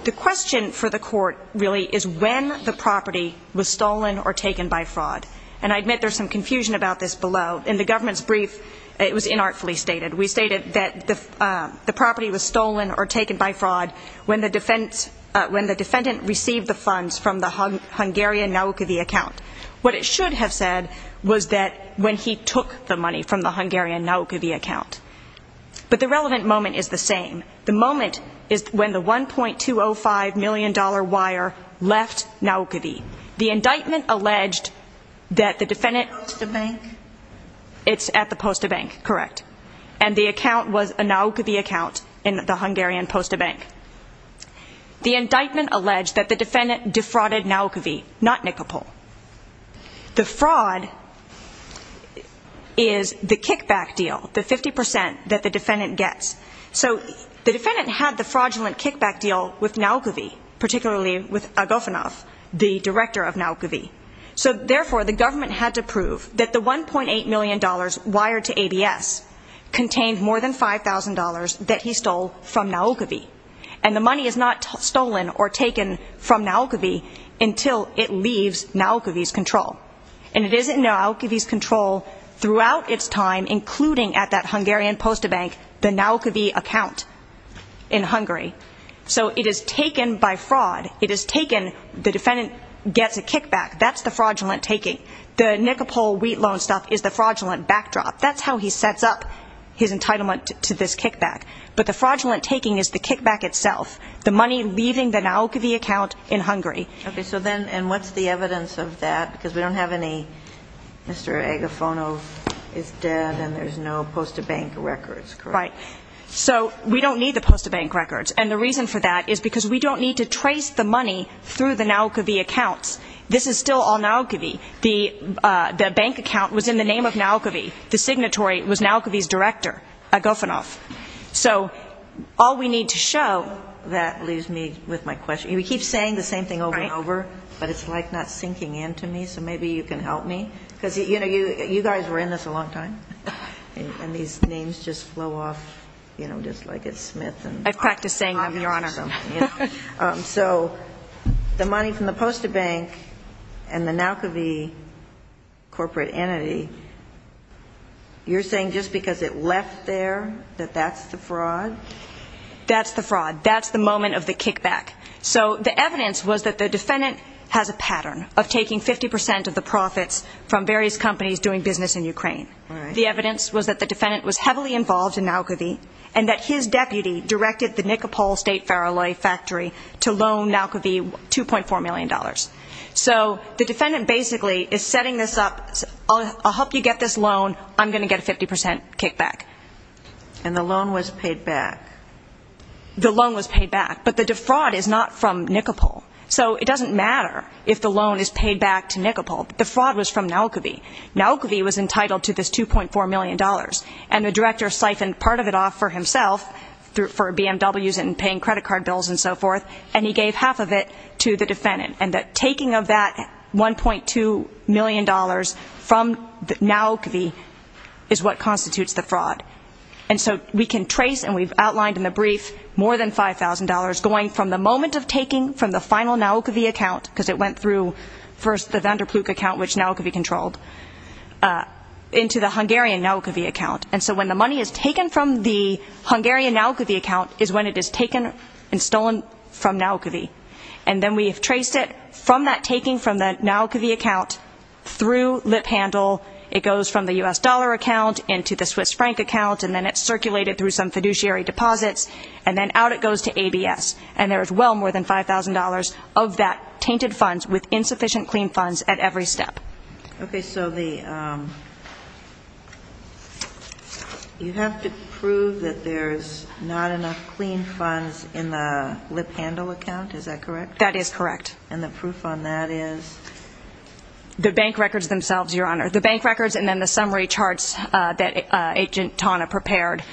The question for the court really is when the property was stolen or taken by fraud, and I admit there's some confusion about this below. In the government's brief, it was inartfully stated. We stated that the property was stolen or taken by fraud when the defendant received the funds from the Hungarian Naokvi account. What it should have said was that when he took the money from the Hungarian Naokvi account. But the relevant moment is the same. The moment is when the $1.205 million wire left Naokvi. The indictment alleged that the defendant... It's at the Posta Bank. It's at the Posta Bank, correct. And the account was a Naokvi account in the Hungarian Posta Bank. The indictment alleged that the defendant defrauded Naokvi, not Nikopol. The fraud is the kickback deal, the 50% that the defendant gets. So the defendant had the fraudulent kickback deal with Naokvi, particularly with Agofonov, the director of Naokvi. So therefore, the government had to prove that the $1.8 million wired to ABS contained more than $5,000 that he stole from Naokvi. And the money is not stolen or taken from Naokvi until it leaves Naokvi's control. And it is in Naokvi's control throughout its time, including at that Hungarian Posta Bank, the Naokvi account in Hungary. So it is taken by fraud. It is taken, the defendant gets a kickback. That's the fraudulent taking. The Nikopol wheat loan stuff is the fraudulent backdrop. That's how he sets up his entitlement to this kickback. But the fraudulent taking is the kickback itself, the money leaving the Naokvi account in Hungary. Okay, so then, and what's the evidence of that? Because we don't have any Mr. Agofonov is dead and there's no Posta Bank records, correct? Right. So we don't need the Posta Bank records. And the reason for that is because we don't need to trace the money through the Naokvi accounts. This is still all Naokvi. The bank account was in the name of Naokvi. The signatory was Naokvi's director, Agofonov. So all we need to show that leaves me with my question. We keep saying the same thing over and over, but it's like not sinking in to me, so maybe you can help me. Because, you know, you guys were in this a long time. And these names just flow off, you know, just like it's Smith. I've practiced saying them, Your Honor. So the money from the Posta Bank and the Naokvi corporate entity, you're saying just because it left there that that's the fraud? That's the fraud. That's the moment of the kickback. So the evidence was that the defendant has a pattern of taking 50 percent of the profits from various companies doing business in Ukraine. The evidence was that the defendant was heavily involved in Naokvi and that his deputy directed the Nikopol State Ferroalloy Factory to loan Naokvi $2.4 million. So the defendant basically is setting this up. I'll help you get this loan. I'm going to get a 50 percent kickback. And the loan was paid back. The loan was paid back, but the defraud is not from Nikopol. So it doesn't matter if the loan is paid back to Nikopol. The fraud was from Naokvi. Naokvi was entitled to this $2.4 million, and the director siphoned part of it off for himself for BMWs and paying credit card bills and so forth, and he gave half of it to the defendant. And the taking of that $1.2 million from Naokvi is what constitutes the fraud. And so we can trace, and we've outlined in the brief, more than $5,000 going from the moment of taking from the final Naokvi account, because it went through first the Van der Ploeg account, which Naokvi controlled, into the Hungarian Naokvi account. And so when the money is taken from the Hungarian Naokvi account is when it is taken and stolen from Naokvi. And then we have traced it from that taking from the Naokvi account through lip handle. It goes from the U.S. dollar account into the Swiss franc account, and then it's circulated through some fiduciary deposits, and then out it goes to ABS. And there is well more than $5,000 of that tainted funds with insufficient clean funds at every step. Okay, so you have to prove that there's not enough clean funds in the lip handle account. Is that correct? That is correct. And the proof on that is? The bank records themselves, Your Honor. The bank records and then the summary charts that Agent Tana prepared.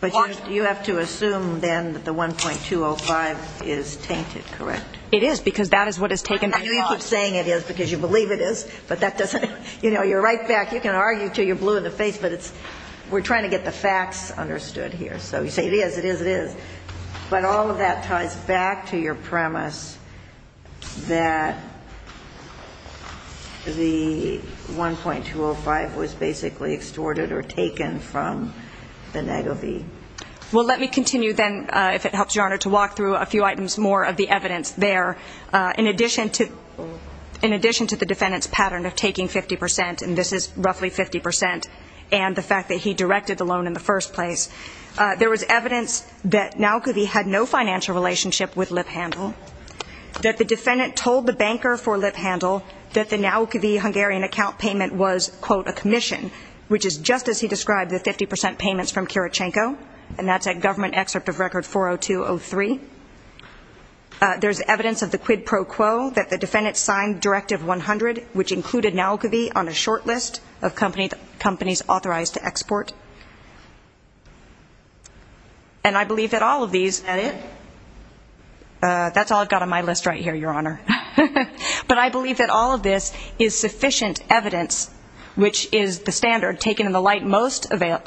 But you have to assume then that the 1.205 is tainted, correct? It is, because that is what is taken. I know you keep saying it is because you believe it is, but that doesn't, you know, you're right back, you can argue until you're blue in the face, but we're trying to get the facts understood here. So you say it is, it is, it is. But all of that ties back to your premise that the 1.205 was basically extorted or taken from the NAGOV. Well, let me continue then, if it helps Your Honor, to walk through a few items more of the evidence there. In addition to the defendant's pattern of taking 50 percent, and this is roughly 50 percent, and the fact that he directed the loan in the first place, there was evidence that NAGOV had no financial relationship with Lip Handle, that the defendant told the banker for Lip Handle that the NAGOV Hungarian account payment was, quote, a commission, which is just as he described the 50 percent payments from Kirichenko, and that's at Government Excerpt of Record 40203. There's evidence of the quid pro quo, that the defendant signed Directive 100, which included NAGOV on a short list of companies authorized to export. And I believe that all of these, that's all I've got on my list right here, Your Honor. But I believe that all of this is sufficient evidence, which is the standard taken in the light most favorable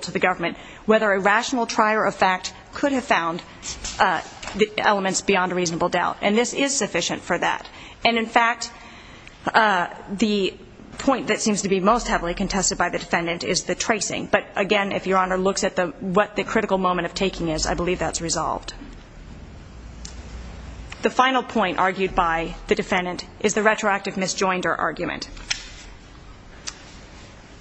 to the government, whether a rational trier of fact could have found the elements beyond a reasonable doubt. And this is sufficient for that. And, in fact, the point that seems to be most heavily contested by the defendant is the tracing. But, again, if Your Honor looks at what the critical moment of taking is, I believe that's resolved. The final point argued by the defendant is the retroactive misjoinder argument.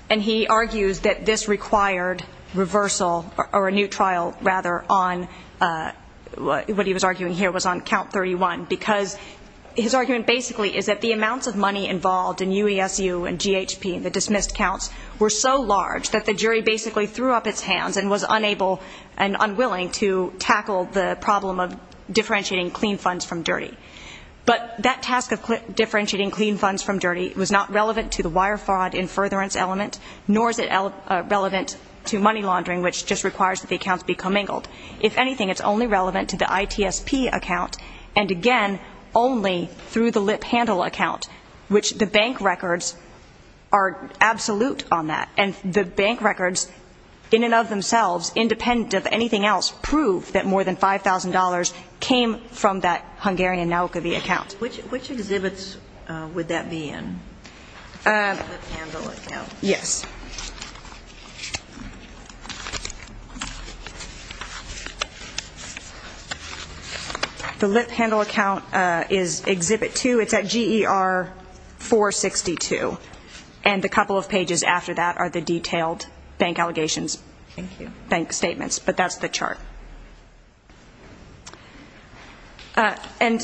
And he argues that this required reversal, or a new trial, rather, on what he was arguing here was on Count 31, because his argument basically is that the amounts of money involved in UESU and GHP and the dismissed counts were so large that the jury basically threw up its hands and was unable and unwilling to tackle the problem of differentiating clean funds from dirty. But that task of differentiating clean funds from dirty was not relevant to the wire fraud in furtherance element, nor is it relevant to money laundering, which just requires that the accounts be commingled. If anything, it's only relevant to the ITSP account, and, again, only through the lip handle account, which the bank records are absolute on that. And the bank records, in and of themselves, independent of anything else, prove that more than $5,000 came from that Hungarian Naukovi account. Which exhibits would that be in? The lip handle account. Yes. The lip handle account is Exhibit 2. It's at GER 462. And the couple of pages after that are the detailed bank allegations. Thank you. Bank statements. But that's the chart. And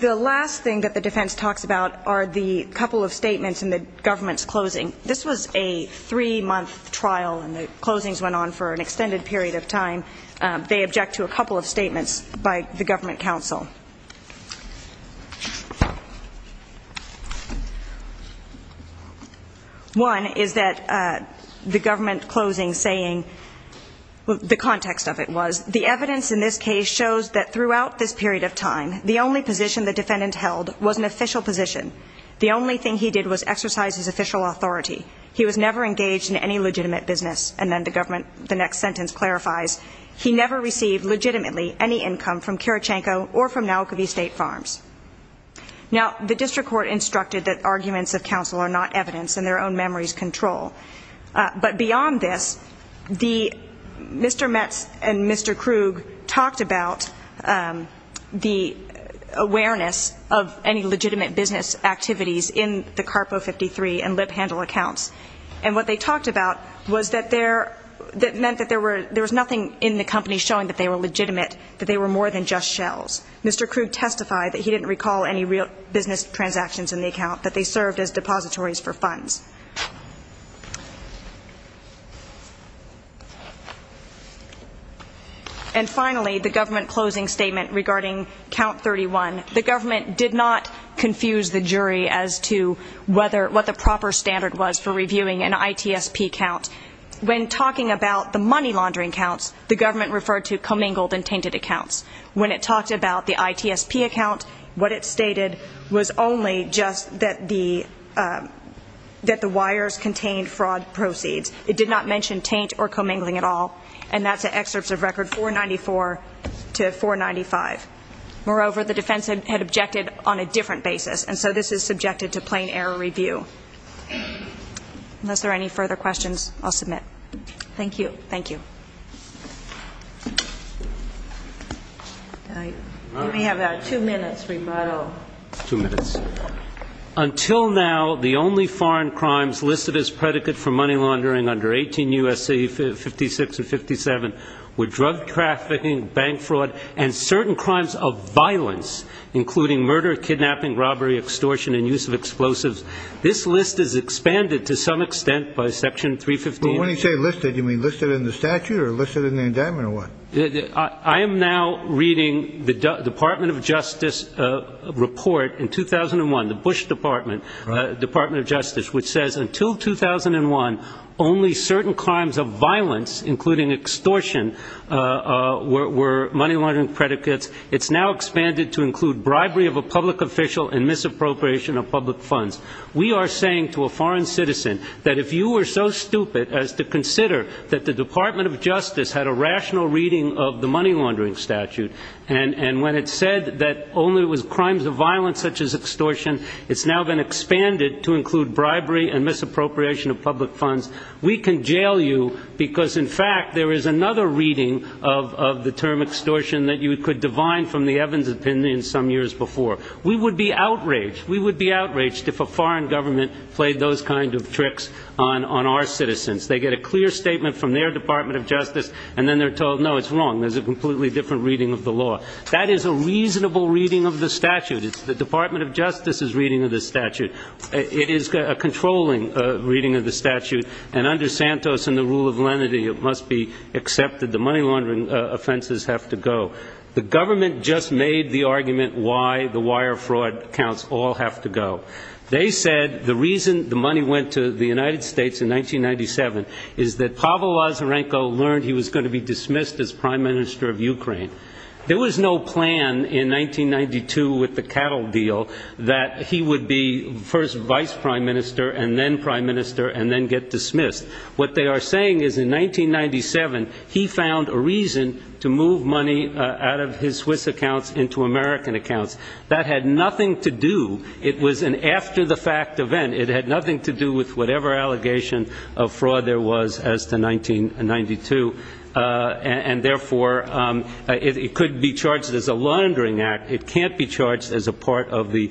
the last thing that the defense talks about are the couple of statements in the government's closing. This was a three-month trial, and the closings went on for an extended period of time. They object to a couple of statements by the government counsel. One is that the government closing saying, the context of it was, the evidence in this case shows that throughout this period of time, the only position the defendant held was an official position. The only thing he did was exercise his official authority. He was never engaged in any legitimate business. And then the government, the next sentence clarifies, he never received legitimately any income from Kirichanko or from Naukovi State Farms. Now, the district court instructed that arguments of counsel are not evidence, and their own memories control. But beyond this, Mr. Metz and Mr. Krug talked about the awareness of any legitimate business activities in the CARPO 53 and lip handle accounts. And what they talked about was that there, that meant that there was nothing in the company showing that they were legitimate, that they were more than just shells. Mr. Krug testified that he didn't recall any real business transactions in the account, that they served as depositories for funds. And finally, the government closing statement regarding Count 31. The government did not confuse the jury as to whether, what the proper standard was for reviewing an ITSP count. When talking about the money laundering counts, the government referred to commingled and tainted accounts. When it talked about the ITSP account, what it stated was only just that the, that the wires contained fraud proceeds. It did not mention taint or commingling at all. And that's an excerpt of record 494 to 495. Moreover, the defense had objected on a different basis, and so this is subjected to plain error review. Unless there are any further questions, I'll submit. Thank you. Thank you. We have about two minutes rebuttal. Two minutes. Until now, the only foreign crimes listed as predicate for money laundering under 18 U.S.C. 56 and 57 were drug trafficking, bank fraud, and certain crimes of violence, including murder, kidnapping, robbery, extortion, and use of explosives. This list is expanded to some extent by Section 315. When you say listed, you mean listed in the statute or listed in the indictment or what? I am now reading the Department of Justice report in 2001, the Bush Department, Department of Justice, which says until 2001, only certain crimes of violence, including extortion, were money laundering predicates. It's now expanded to include bribery of a public official and misappropriation of public funds. We are saying to a foreign citizen that if you were so stupid as to consider that the Department of Justice had a rational reading of the money laundering statute, and when it said that only it was crimes of violence such as extortion, it's now been expanded to include bribery and misappropriation of public funds. We can jail you because, in fact, there is another reading of the term extortion that you could divine from the Evans opinion some years before. We would be outraged. We would be outraged if a foreign government played those kind of tricks on our citizens. They get a clear statement from their Department of Justice, and then they're told, no, it's wrong. There's a completely different reading of the law. That is a reasonable reading of the statute. It's the Department of Justice's reading of the statute. It is a controlling reading of the statute, and under Santos and the rule of lenity it must be accepted the money laundering offenses have to go. The government just made the argument why the wire fraud counts all have to go. They said the reason the money went to the United States in 1997 is that Pavel Lazarenko learned he was going to be dismissed as prime minister of Ukraine. There was no plan in 1992 with the cattle deal that he would be first vice prime minister and then prime minister and then get dismissed. What they are saying is in 1997 he found a reason to move money out of his Swiss accounts into American accounts. That had nothing to do. It was an after-the-fact event. It had nothing to do with whatever allegation of fraud there was as to 1992, and therefore it could be charged as a laundering act. It can't be charged as a part of the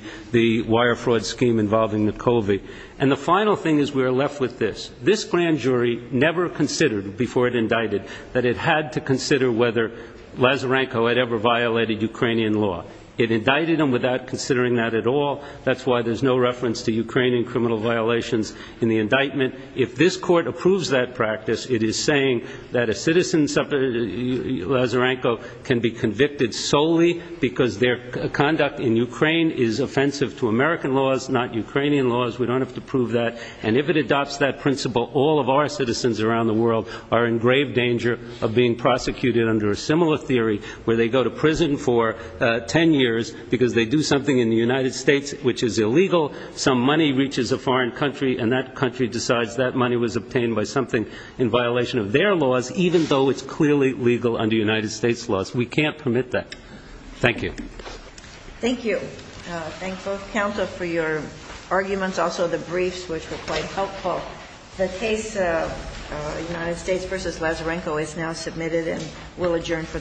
wire fraud scheme involving the COVID. And the final thing is we are left with this. This grand jury never considered before it indicted that it had to consider whether Lazarenko had ever violated Ukrainian law. It indicted him without considering that at all. That's why there's no reference to Ukrainian criminal violations in the indictment. If this court approves that practice, it is saying that a citizen, Lazarenko, can be convicted solely because their conduct in Ukraine is offensive to American laws, not Ukrainian laws. We don't have to prove that. And if it adopts that principle, all of our citizens around the world are in grave danger of being prosecuted under a similar theory where they go to prison for 10 years because they do something in the United States which is illegal. Some money reaches a foreign country, and that country decides that money was obtained by something in violation of their laws, even though it's clearly legal under United States laws. We can't permit that. Thank you. Thank you. Thank both counsel for your arguments, also the briefs, which were quite helpful. The case of United States v. Lazarenko is now submitted, and we'll adjourn for the morning.